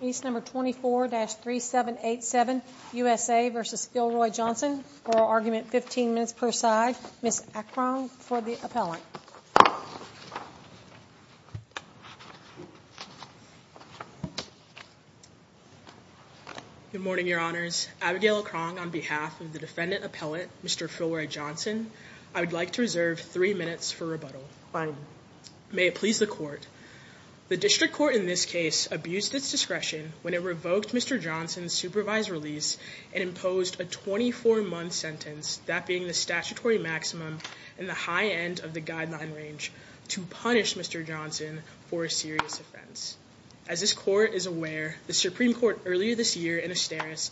Case No. 24-3787, USA v. Philroy Johnson Oral argument, 15 minutes per side Ms. Akron, for the appellant Good morning, your honors Abigail Akron, on behalf of the defendant appellant, Mr. Philroy Johnson I would like to reserve 3 minutes for rebuttal Fine May it please the court The district court in this case abused its discretion when it revoked Mr. Johnson's supervised release and imposed a 24-month sentence, that being the statutory maximum and the high end of the guideline range to punish Mr. Johnson for a serious offense As this court is aware, the Supreme Court earlier this year in Asteris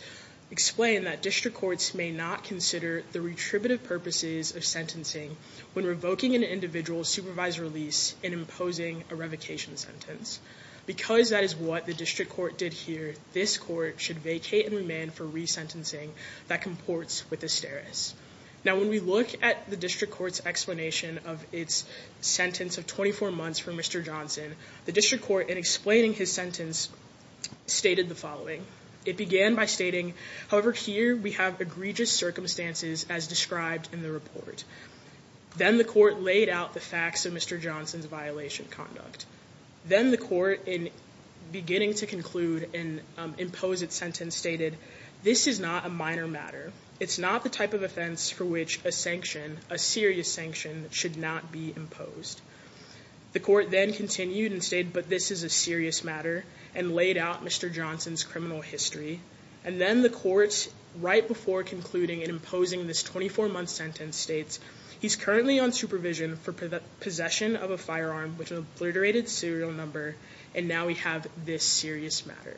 explained that district courts may not consider the retributive purposes of sentencing when revoking an individual's supervised release and imposing a revocation sentence Because that is what the district court did here this court should vacate and remand for resentencing that comports with Asteris Now when we look at the district court's explanation of its sentence of 24 months for Mr. Johnson the district court, in explaining his sentence, stated the following It began by stating, however here we have egregious circumstances as described in the report Then the court laid out the facts of Mr. Johnson's violation conduct Then the court, in beginning to conclude and impose its sentence, stated This is not a minor matter It's not the type of offense for which a sanction, a serious sanction, should not be imposed The court then continued and stated, but this is a serious matter and laid out Mr. Johnson's criminal history and then the court, right before concluding and imposing this 24-month sentence, states He's currently on supervision for possession of a firearm with an obliterated serial number and now we have this serious matter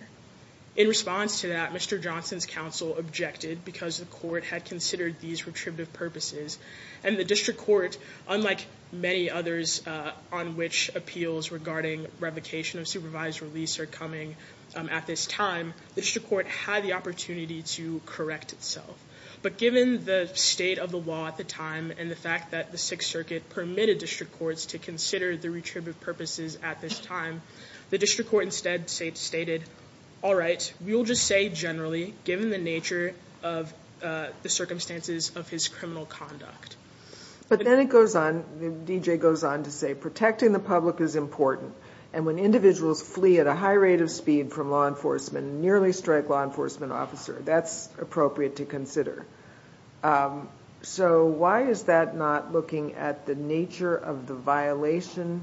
In response to that, Mr. Johnson's counsel objected because the court had considered these retributive purposes and the district court, unlike many others on which appeals regarding revocation of supervised release are coming at this time, the district court had the opportunity to correct itself but given the state of the law at the time and the fact that the 6th Circuit permitted district courts to consider the retributive purposes at this time the district court instead stated, alright, we'll just say generally given the nature of the circumstances of his criminal conduct But then it goes on, D.J. goes on to say, protecting the public is important and when individuals flee at a high rate of speed from law enforcement and nearly strike law enforcement officers, that's appropriate to consider So why is that not looking at the nature of the violation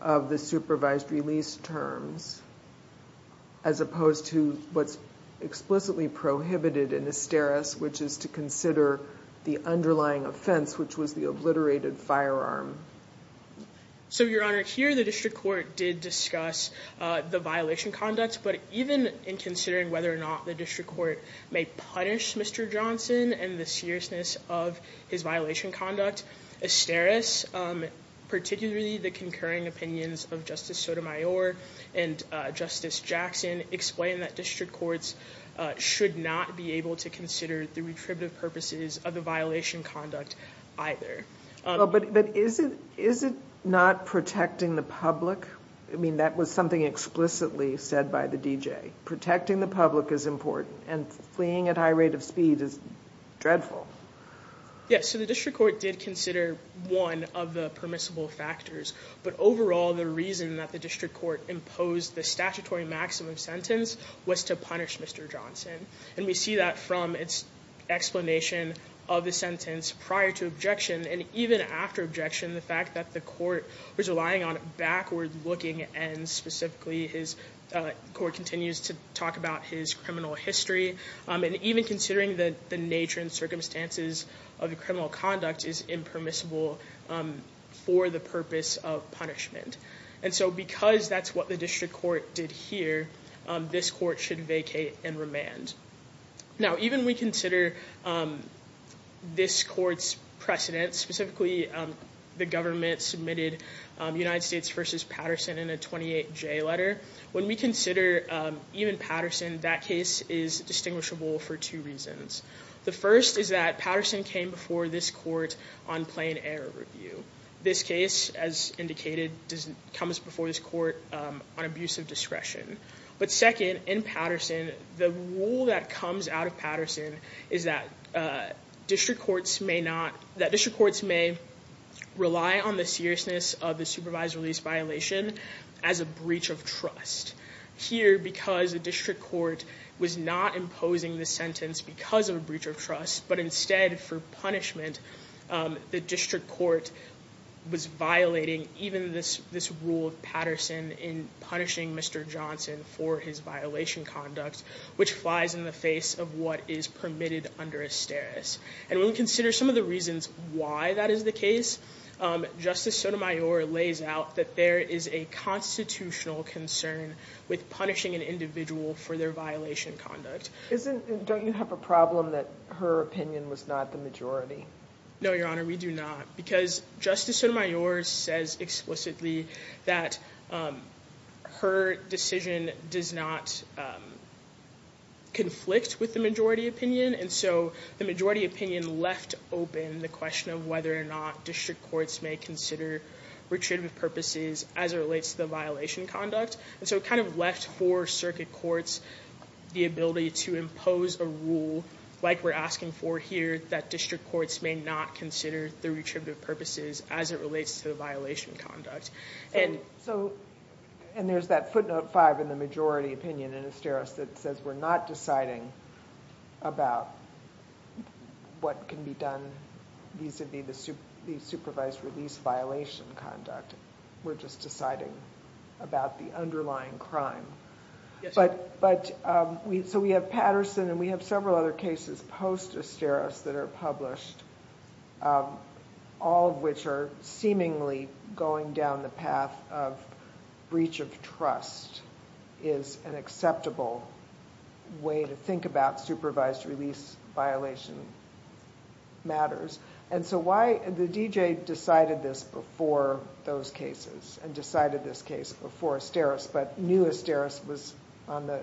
of the supervised release terms as opposed to what's explicitly prohibited in asteris, which is to consider the underlying offense which was the obliterated firearm So, Your Honor, here the district court did discuss the violation conduct but even in considering whether or not the district court may punish Mr. Johnson and the seriousness of his violation conduct asteris, particularly the concurring opinions of Justice Sotomayor and Justice Jackson explain that district courts should not be able to consider the retributive purposes of the violation conduct either But is it not protecting the public? I mean, that was something explicitly said by the D.J. Protecting the public is important and fleeing at high rate of speed is dreadful Yes, so the district court did consider one of the permissible factors but overall the reason that the district court imposed the statutory maximum sentence was to punish Mr. Johnson and we see that from its explanation of the sentence prior to objection and even after objection, the fact that the court was relying on backward looking and specifically his court continues to talk about his criminal history and even considering that the nature and circumstances of the criminal conduct is impermissible for the purpose of punishment and so because that's what the district court did here, this court should vacate and remand Now even we consider this court's precedence specifically the government submitted United States v. Patterson in a 28J letter when we consider even Patterson, that case is distinguishable for two reasons The first is that Patterson came before this court on plain error review This case, as indicated, comes before this court on abuse of discretion But second, in Patterson, the rule that comes out of Patterson is that district courts may rely on the seriousness of the supervised release violation as a breach of trust Here, because the district court was not imposing the sentence because of a breach of trust but instead for punishment, the district court was violating even this rule of Patterson in punishing Mr. Johnson for his violation conduct which flies in the face of what is permitted under a steris And when we consider some of the reasons why that is the case Justice Sotomayor lays out that there is a constitutional concern with punishing an individual for their violation conduct Don't you have a problem that her opinion was not the majority? No, Your Honor, we do not Because Justice Sotomayor says explicitly that her decision does not conflict with the majority opinion And so the majority opinion left open the question of whether or not district courts may consider retreatment purposes as it relates to the violation conduct And so it kind of left for circuit courts the ability to impose a rule like we're asking for here, that district courts may not consider the retreatment purposes as it relates to the violation conduct And there's that footnote 5 in the majority opinion in a steris that says we're not deciding about what can be done vis-a-vis the supervised release violation conduct We're just deciding about the underlying crime So we have Patterson and we have several other cases post-a steris that are published all of which are seemingly going down the path of breach of trust is an acceptable way to think about supervised release violation matters And so why the D.J. decided this before those cases and decided this case before a steris but knew a steris was on the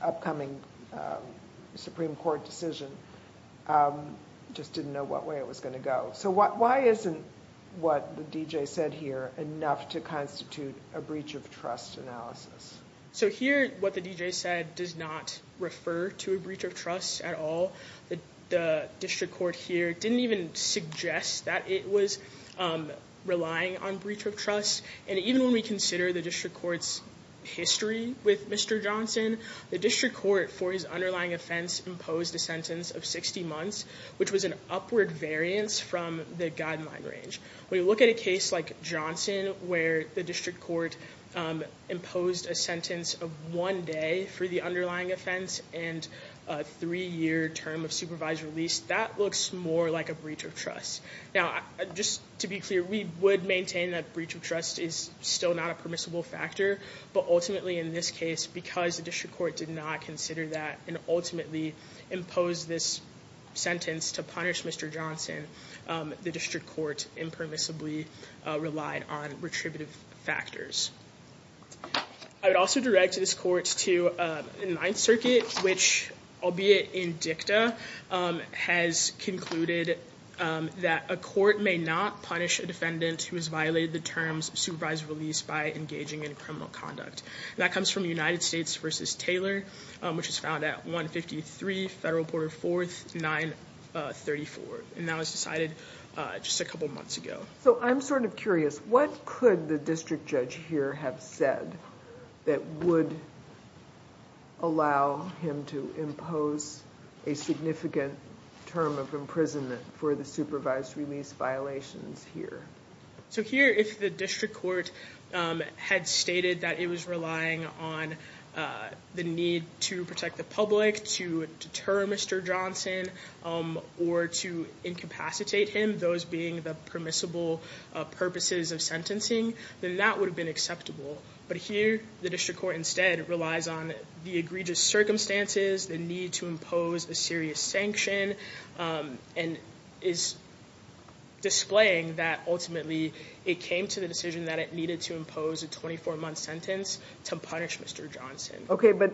upcoming Supreme Court decision just didn't know what way it was going to go So why isn't what the D.J. said here enough to constitute a breach of trust analysis? So here what the D.J. said does not refer to a breach of trust at all The district court here didn't even suggest that it was relying on breach of trust And even when we consider the district court's history with Mr. Johnson the district court for his underlying offense imposed a sentence of 60 months which was an upward variance from the guideline range When you look at a case like Johnson where the district court imposed a sentence of one day for the underlying offense and a three-year term of supervised release that looks more like a breach of trust Now just to be clear we would maintain that breach of trust is still not a permissible factor but ultimately in this case because the district court did not consider that and ultimately imposed this sentence to punish Mr. Johnson the district court impermissibly relied on retributive factors I would also direct this court to the Ninth Circuit which, albeit in dicta, has concluded that a court may not punish a defendant who has violated the terms of supervised release by engaging in criminal conduct That comes from United States v. Taylor which is found at 153 Federal Border 4th 934 and that was decided just a couple months ago So I'm sort of curious, what could the district judge here have said that would allow him to impose a significant term of imprisonment for the supervised release violations here? So here if the district court had stated that it was relying on the need to protect the public, to deter Mr. Johnson or to incapacitate him, those being the permissible purposes of sentencing then that would have been acceptable but here the district court instead relies on the egregious circumstances the need to impose a serious sanction and is displaying that ultimately it came to the decision that it needed to impose a 24-month sentence to punish Mr. Johnson Okay, but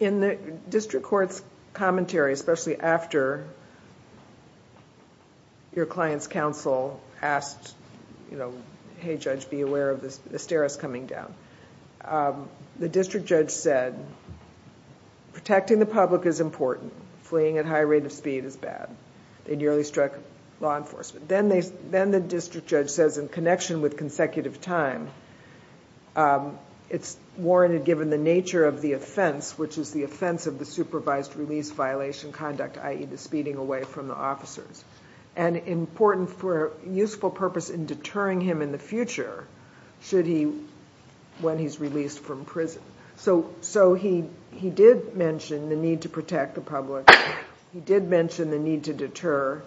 in the district court's commentary especially after your client's counsel asked hey judge, be aware of the stairs coming down the district judge said, protecting the public is important fleeing at high rate of speed is bad they nearly struck law enforcement then the district judge says in connection with consecutive time it's warranted given the nature of the offense which is the offense of the supervised release violation conduct i.e. the speeding away from the officers and important for useful purpose in deterring him in the future should he, when he's released from prison so he did mention the need to protect the public he did mention the need to deter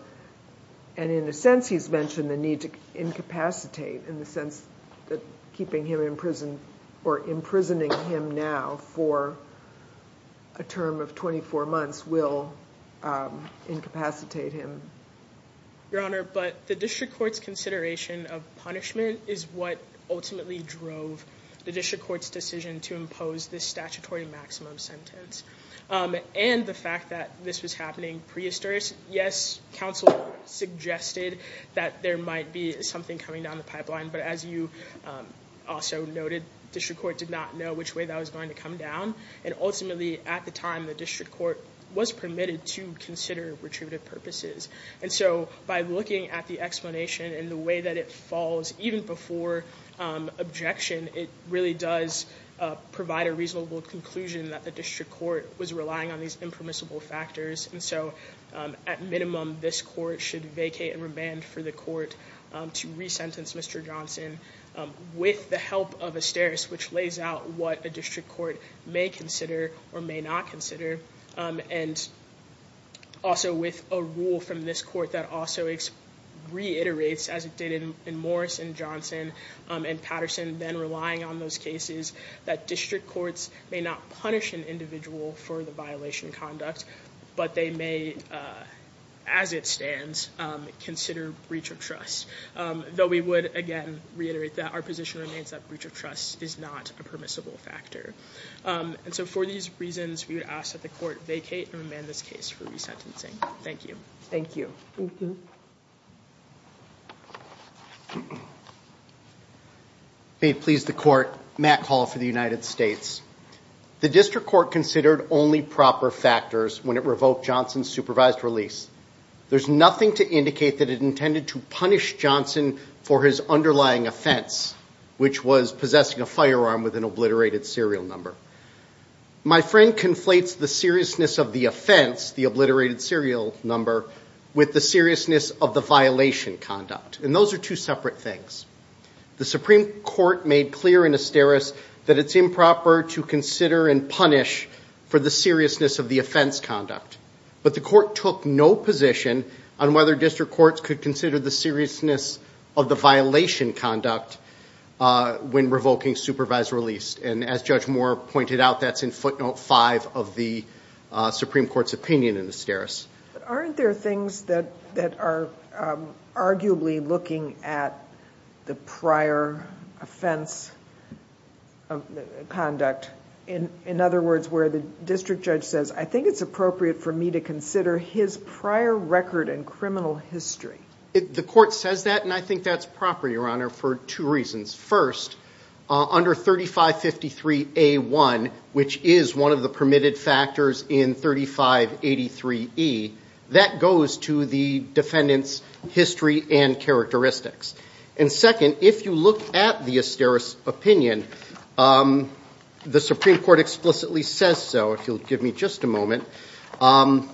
and in a sense he's mentioned the need to incapacitate in the sense that keeping him in prison or imprisoning him now for a term of 24 months will incapacitate him Your Honor, but the district court's consideration of punishment is what ultimately drove the district court's decision to impose this statutory maximum sentence and the fact that this was happening prehistoric yes, counsel suggested that there might be something coming down the pipeline but as you also noted district court did not know which way that was going to come down and ultimately at the time the district court was permitted to consider retributive purposes and so by looking at the explanation and the way that it falls even before objection it really does provide a reasonable conclusion that the district court was relying on these impermissible factors and so at minimum this court should vacate and remand for the court to re-sentence Mr. Johnson with the help of a steris which lays out what a district court may consider or may not consider and also with a rule from this court that also reiterates as it did in Morris and Johnson and Patterson then relying on those cases that district courts may not punish an individual for the violation of conduct but they may, as it stands consider breach of trust though we would again reiterate that our position remains that breach of trust is not a permissible factor and so for these reasons we would ask that the court vacate and remand this case for re-sentencing. Thank you. Thank you. May it please the court, Matt Hall for the United States The district court considered only proper factors when it revoked Johnson's supervised release There's nothing to indicate that it intended to punish Johnson for his underlying offense which was possessing a firearm with an obliterated serial number My friend conflates the seriousness of the offense the obliterated serial number with the seriousness of the violation conduct and those are two separate things The Supreme Court made clear in a steris that it's improper to consider and punish for the seriousness of the offense conduct but the court took no position on whether district courts could consider the seriousness of the violation conduct when revoking supervised release and as Judge Moore pointed out that's in footnote 5 of the Supreme Court's opinion in the steris Aren't there things that are arguably looking at the prior offense conduct in other words where the district judge says I think it's appropriate for me to consider his prior record and criminal history The court says that and I think that's proper Your Honor for two reasons First, under 3553A1 which is one of the permitted factors in 3583E that goes to the defendant's history and characteristics and second, if you look at the steris opinion the Supreme Court explicitly says so if you'll give me just a moment A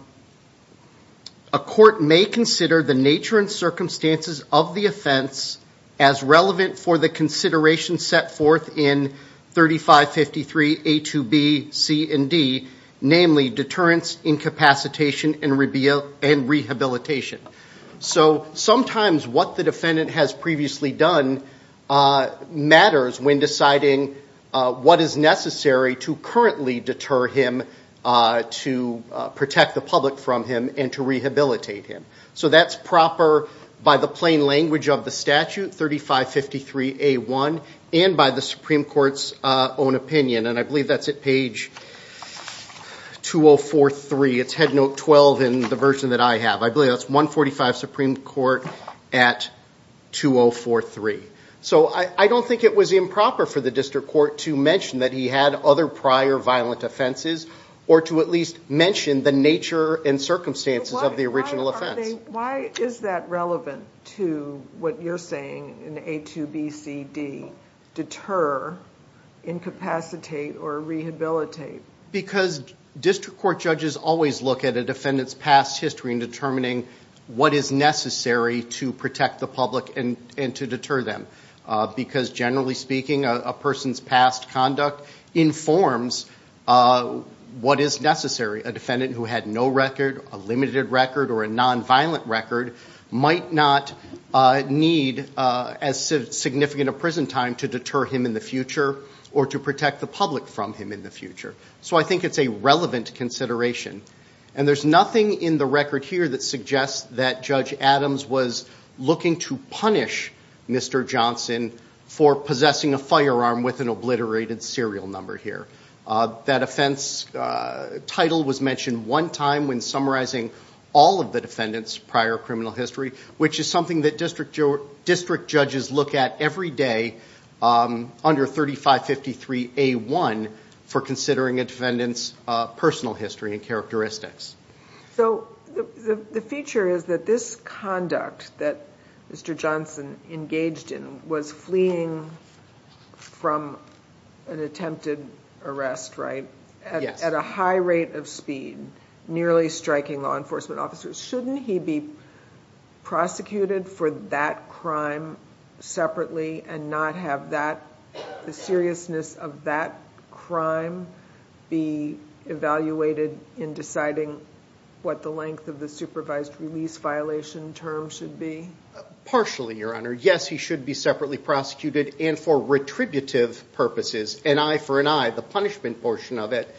court may consider the nature and circumstances of the offense as relevant for the consideration set forth in 3553A2B, C and D namely deterrence, incapacitation and rehabilitation So sometimes what the defendant has previously done matters when deciding what is necessary to currently deter him to protect the public from him and to rehabilitate him So that's proper by the plain language of the statute 3553A1 and by the Supreme Court's own opinion and I believe that's at page 2043 It's headnote 12 in the version that I have I believe that's 145 Supreme Court at 2043 So I don't think it was improper for the district court to mention that he had other prior violent offenses or to at least mention the nature and circumstances of the original offense Why is that relevant to what you're saying in A2B, C, D deter, incapacitate or rehabilitate? Because district court judges always look at determining what is necessary to protect the public and to deter them because generally speaking a person's past conduct informs what is necessary A defendant who had no record, a limited record or a non-violent record might not need as significant a prison time to deter him in the future or to protect the public from him in the future So I think it's a relevant consideration And there's nothing in the record here that suggests that Judge Adams was looking to punish Mr. Johnson for possessing a firearm with an obliterated serial number here That offense title was mentioned one time when summarizing all of the defendant's prior criminal history which is something that district judges look at every day under 3553A1 for considering a defendant's personal history and characteristics So the feature is that this conduct that Mr. Johnson engaged in was fleeing from an attempted arrest, right? Yes At a high rate of speed nearly striking law enforcement officers Shouldn't he be prosecuted for that crime separately and not have the seriousness of that crime be evaluated in deciding what the length of the supervised release violation term should be? Partially, Your Honor Yes, he should be separately prosecuted and for retributive purposes An eye for an eye, the punishment portion of it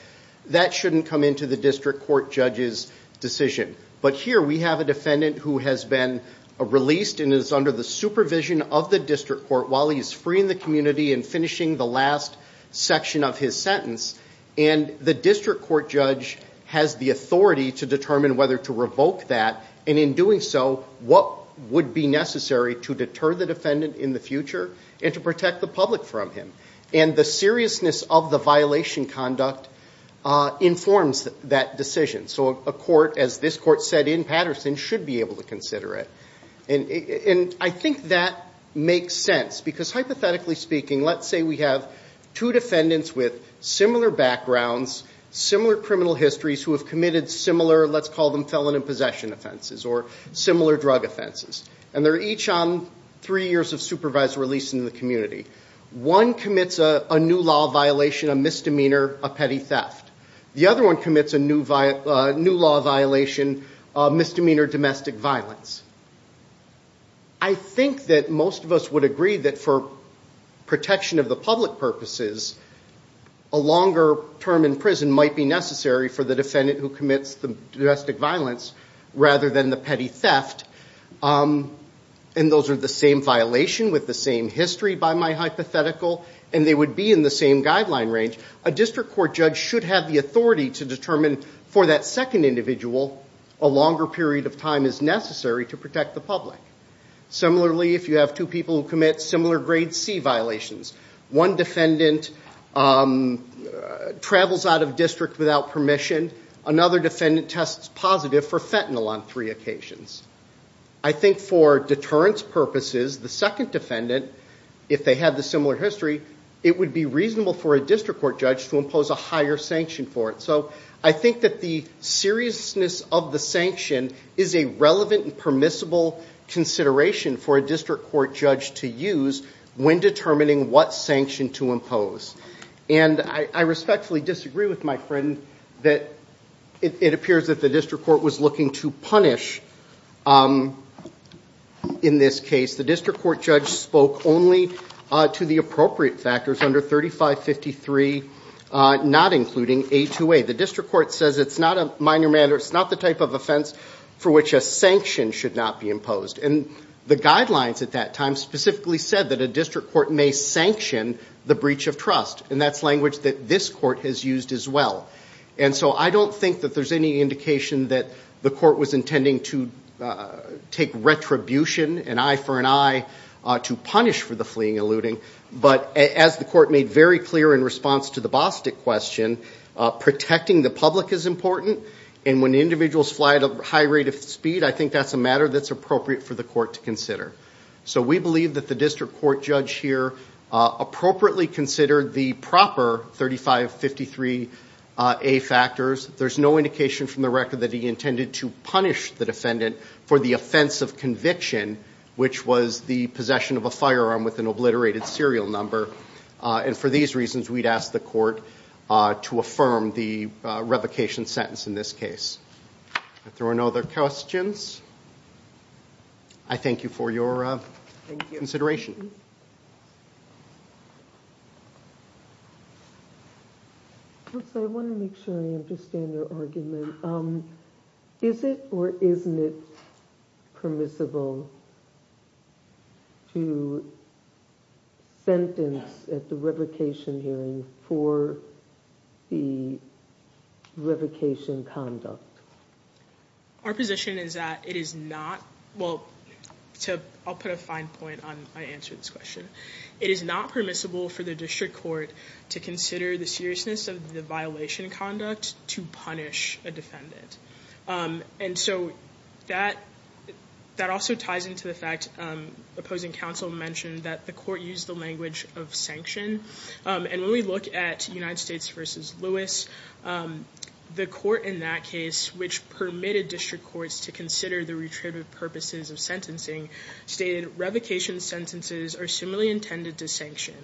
That shouldn't come into the district court judge's decision But here we have a defendant who has been released and is under the supervision of the district court while he's freeing the community and finishing the last section of his sentence and the district court judge has the authority to determine whether to revoke that and in doing so, what would be necessary to deter the defendant in the future and to protect the public from him And the seriousness of the violation conduct informs that decision So a court, as this court set in Patterson should be able to consider it And I think that makes sense because hypothetically speaking let's say we have two defendants with similar backgrounds similar criminal histories who have committed similar, let's call them felon and possession offenses or similar drug offenses and they're each on three years of supervised release in the community One commits a new law violation, a misdemeanor, a petty theft The other one commits a new law violation a misdemeanor domestic violence I think that most of us would agree that for protection of the public purposes a longer term in prison might be necessary for the defendant who commits the domestic violence rather than the petty theft And those are the same violation with the same history by my hypothetical and they would be in the same guideline range A district court judge should have the authority to determine for that second individual a longer period of time is necessary to protect the public Similarly, if you have two people who commit similar grade C violations One defendant travels out of district without permission Another defendant tests positive for fentanyl on three occasions I think for deterrence purposes the second defendant if they have the similar history it would be reasonable for a district court judge to impose a higher sanction for it So I think that the seriousness of the sanction is a relevant and permissible consideration for a district court judge to use when determining what sanction to impose And I respectfully disagree with my friend that it appears that the district court was looking to punish In this case, the district court judge spoke only to the appropriate factors under 3553, not including A2A The district court says it's not a minor matter it's not the type of offense for which a sanction should not be imposed And the guidelines at that time specifically said that a district court may sanction the breach of trust And that's language that this court has used as well And so I don't think that there's any indication that the court was intending to take retribution, an eye for an eye to punish for the fleeing and looting But as the court made very clear in response to the Bostic question protecting the public is important And when individuals fly at a high rate of speed I think that's a matter that's appropriate for the court to consider So we believe that the district court judge here appropriately considered the proper 3553A factors There's no indication from the record that he intended to punish the defendant for the offense of conviction which was the possession of a firearm with an obliterated serial number And for these reasons we'd ask the court to affirm the revocation sentence in this case If there are no other questions I thank you for your consideration I want to make sure I understand your argument Is it or isn't it permissible to sentence at the revocation hearing for the revocation conduct? Our position is that it is not Well, I'll put a fine point on my answer to this question It is not permissible for the district court to consider the seriousness of the violation conduct to punish a defendant And so that also ties into the fact opposing counsel mentioned that the court used the language of sanction And when we look at United States v. Lewis the court in that case which permitted district courts to consider the retributive purposes of sentencing stated revocation sentences are similarly intended to sanction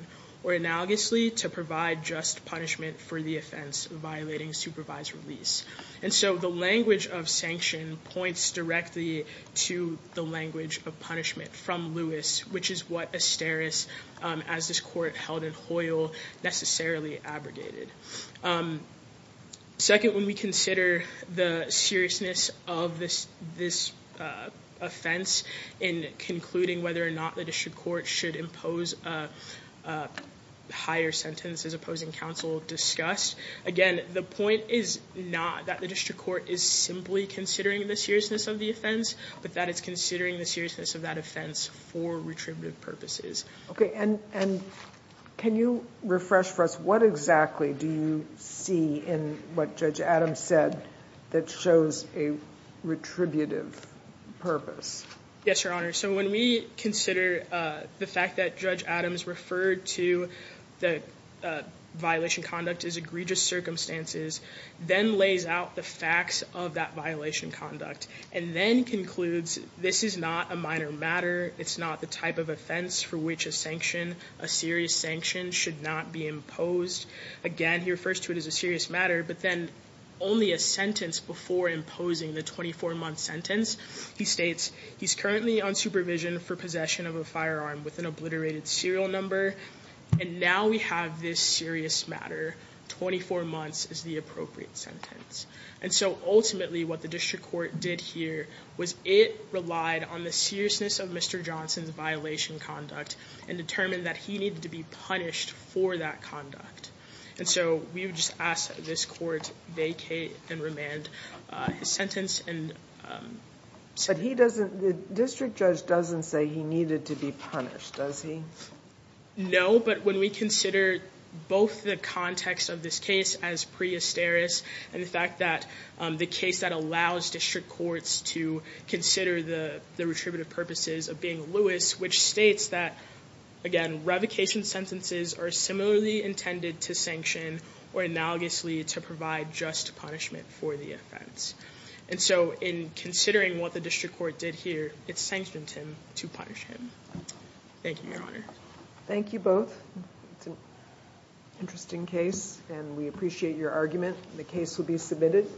or analogously to provide just punishment for the offense violating supervised release And so the language of sanction points directly to the language of punishment from Lewis which is what Asteris, as this court held in Hoyle necessarily abrogated Second, when we consider the seriousness of this offense in concluding whether or not the district court should impose a higher sentence as opposing counsel discussed Again, the point is not that the district court is simply considering the seriousness of the offense but that it's considering the seriousness of that offense for retributive purposes Okay, and can you refresh for us what exactly do you see in what Judge Adams said that shows a retributive purpose? Yes, Your Honor So when we consider the fact that Judge Adams referred to the violation conduct as egregious circumstances then lays out the facts of that violation conduct and then concludes this is not a minor matter it's not the type of offense for which a sanction a serious sanction should not be imposed Again, he refers to it as a serious matter but then only a sentence before imposing the 24-month sentence He states he's currently on supervision for possession of a firearm with an obliterated serial number and now we have this serious matter 24 months is the appropriate sentence and so ultimately what the district court did here was it relied on the seriousness of Mr. Johnson's violation conduct and determined that he needed to be punished for that conduct and so we would just ask that this court vacate and remand his sentence The district judge doesn't say he needed to be punished, does he? No, but when we consider both the context of this case as pre-Esteris and the fact that the case that allows district courts to consider the retributive purposes of being lewis which states that, again, revocation sentences are similarly intended to sanction or analogously to provide just punishment for the offense and so in considering what the district court did here it sanctioned him to punish him Thank you, Your Honor Thank you both It's an interesting case and we appreciate your argument The case will be submitted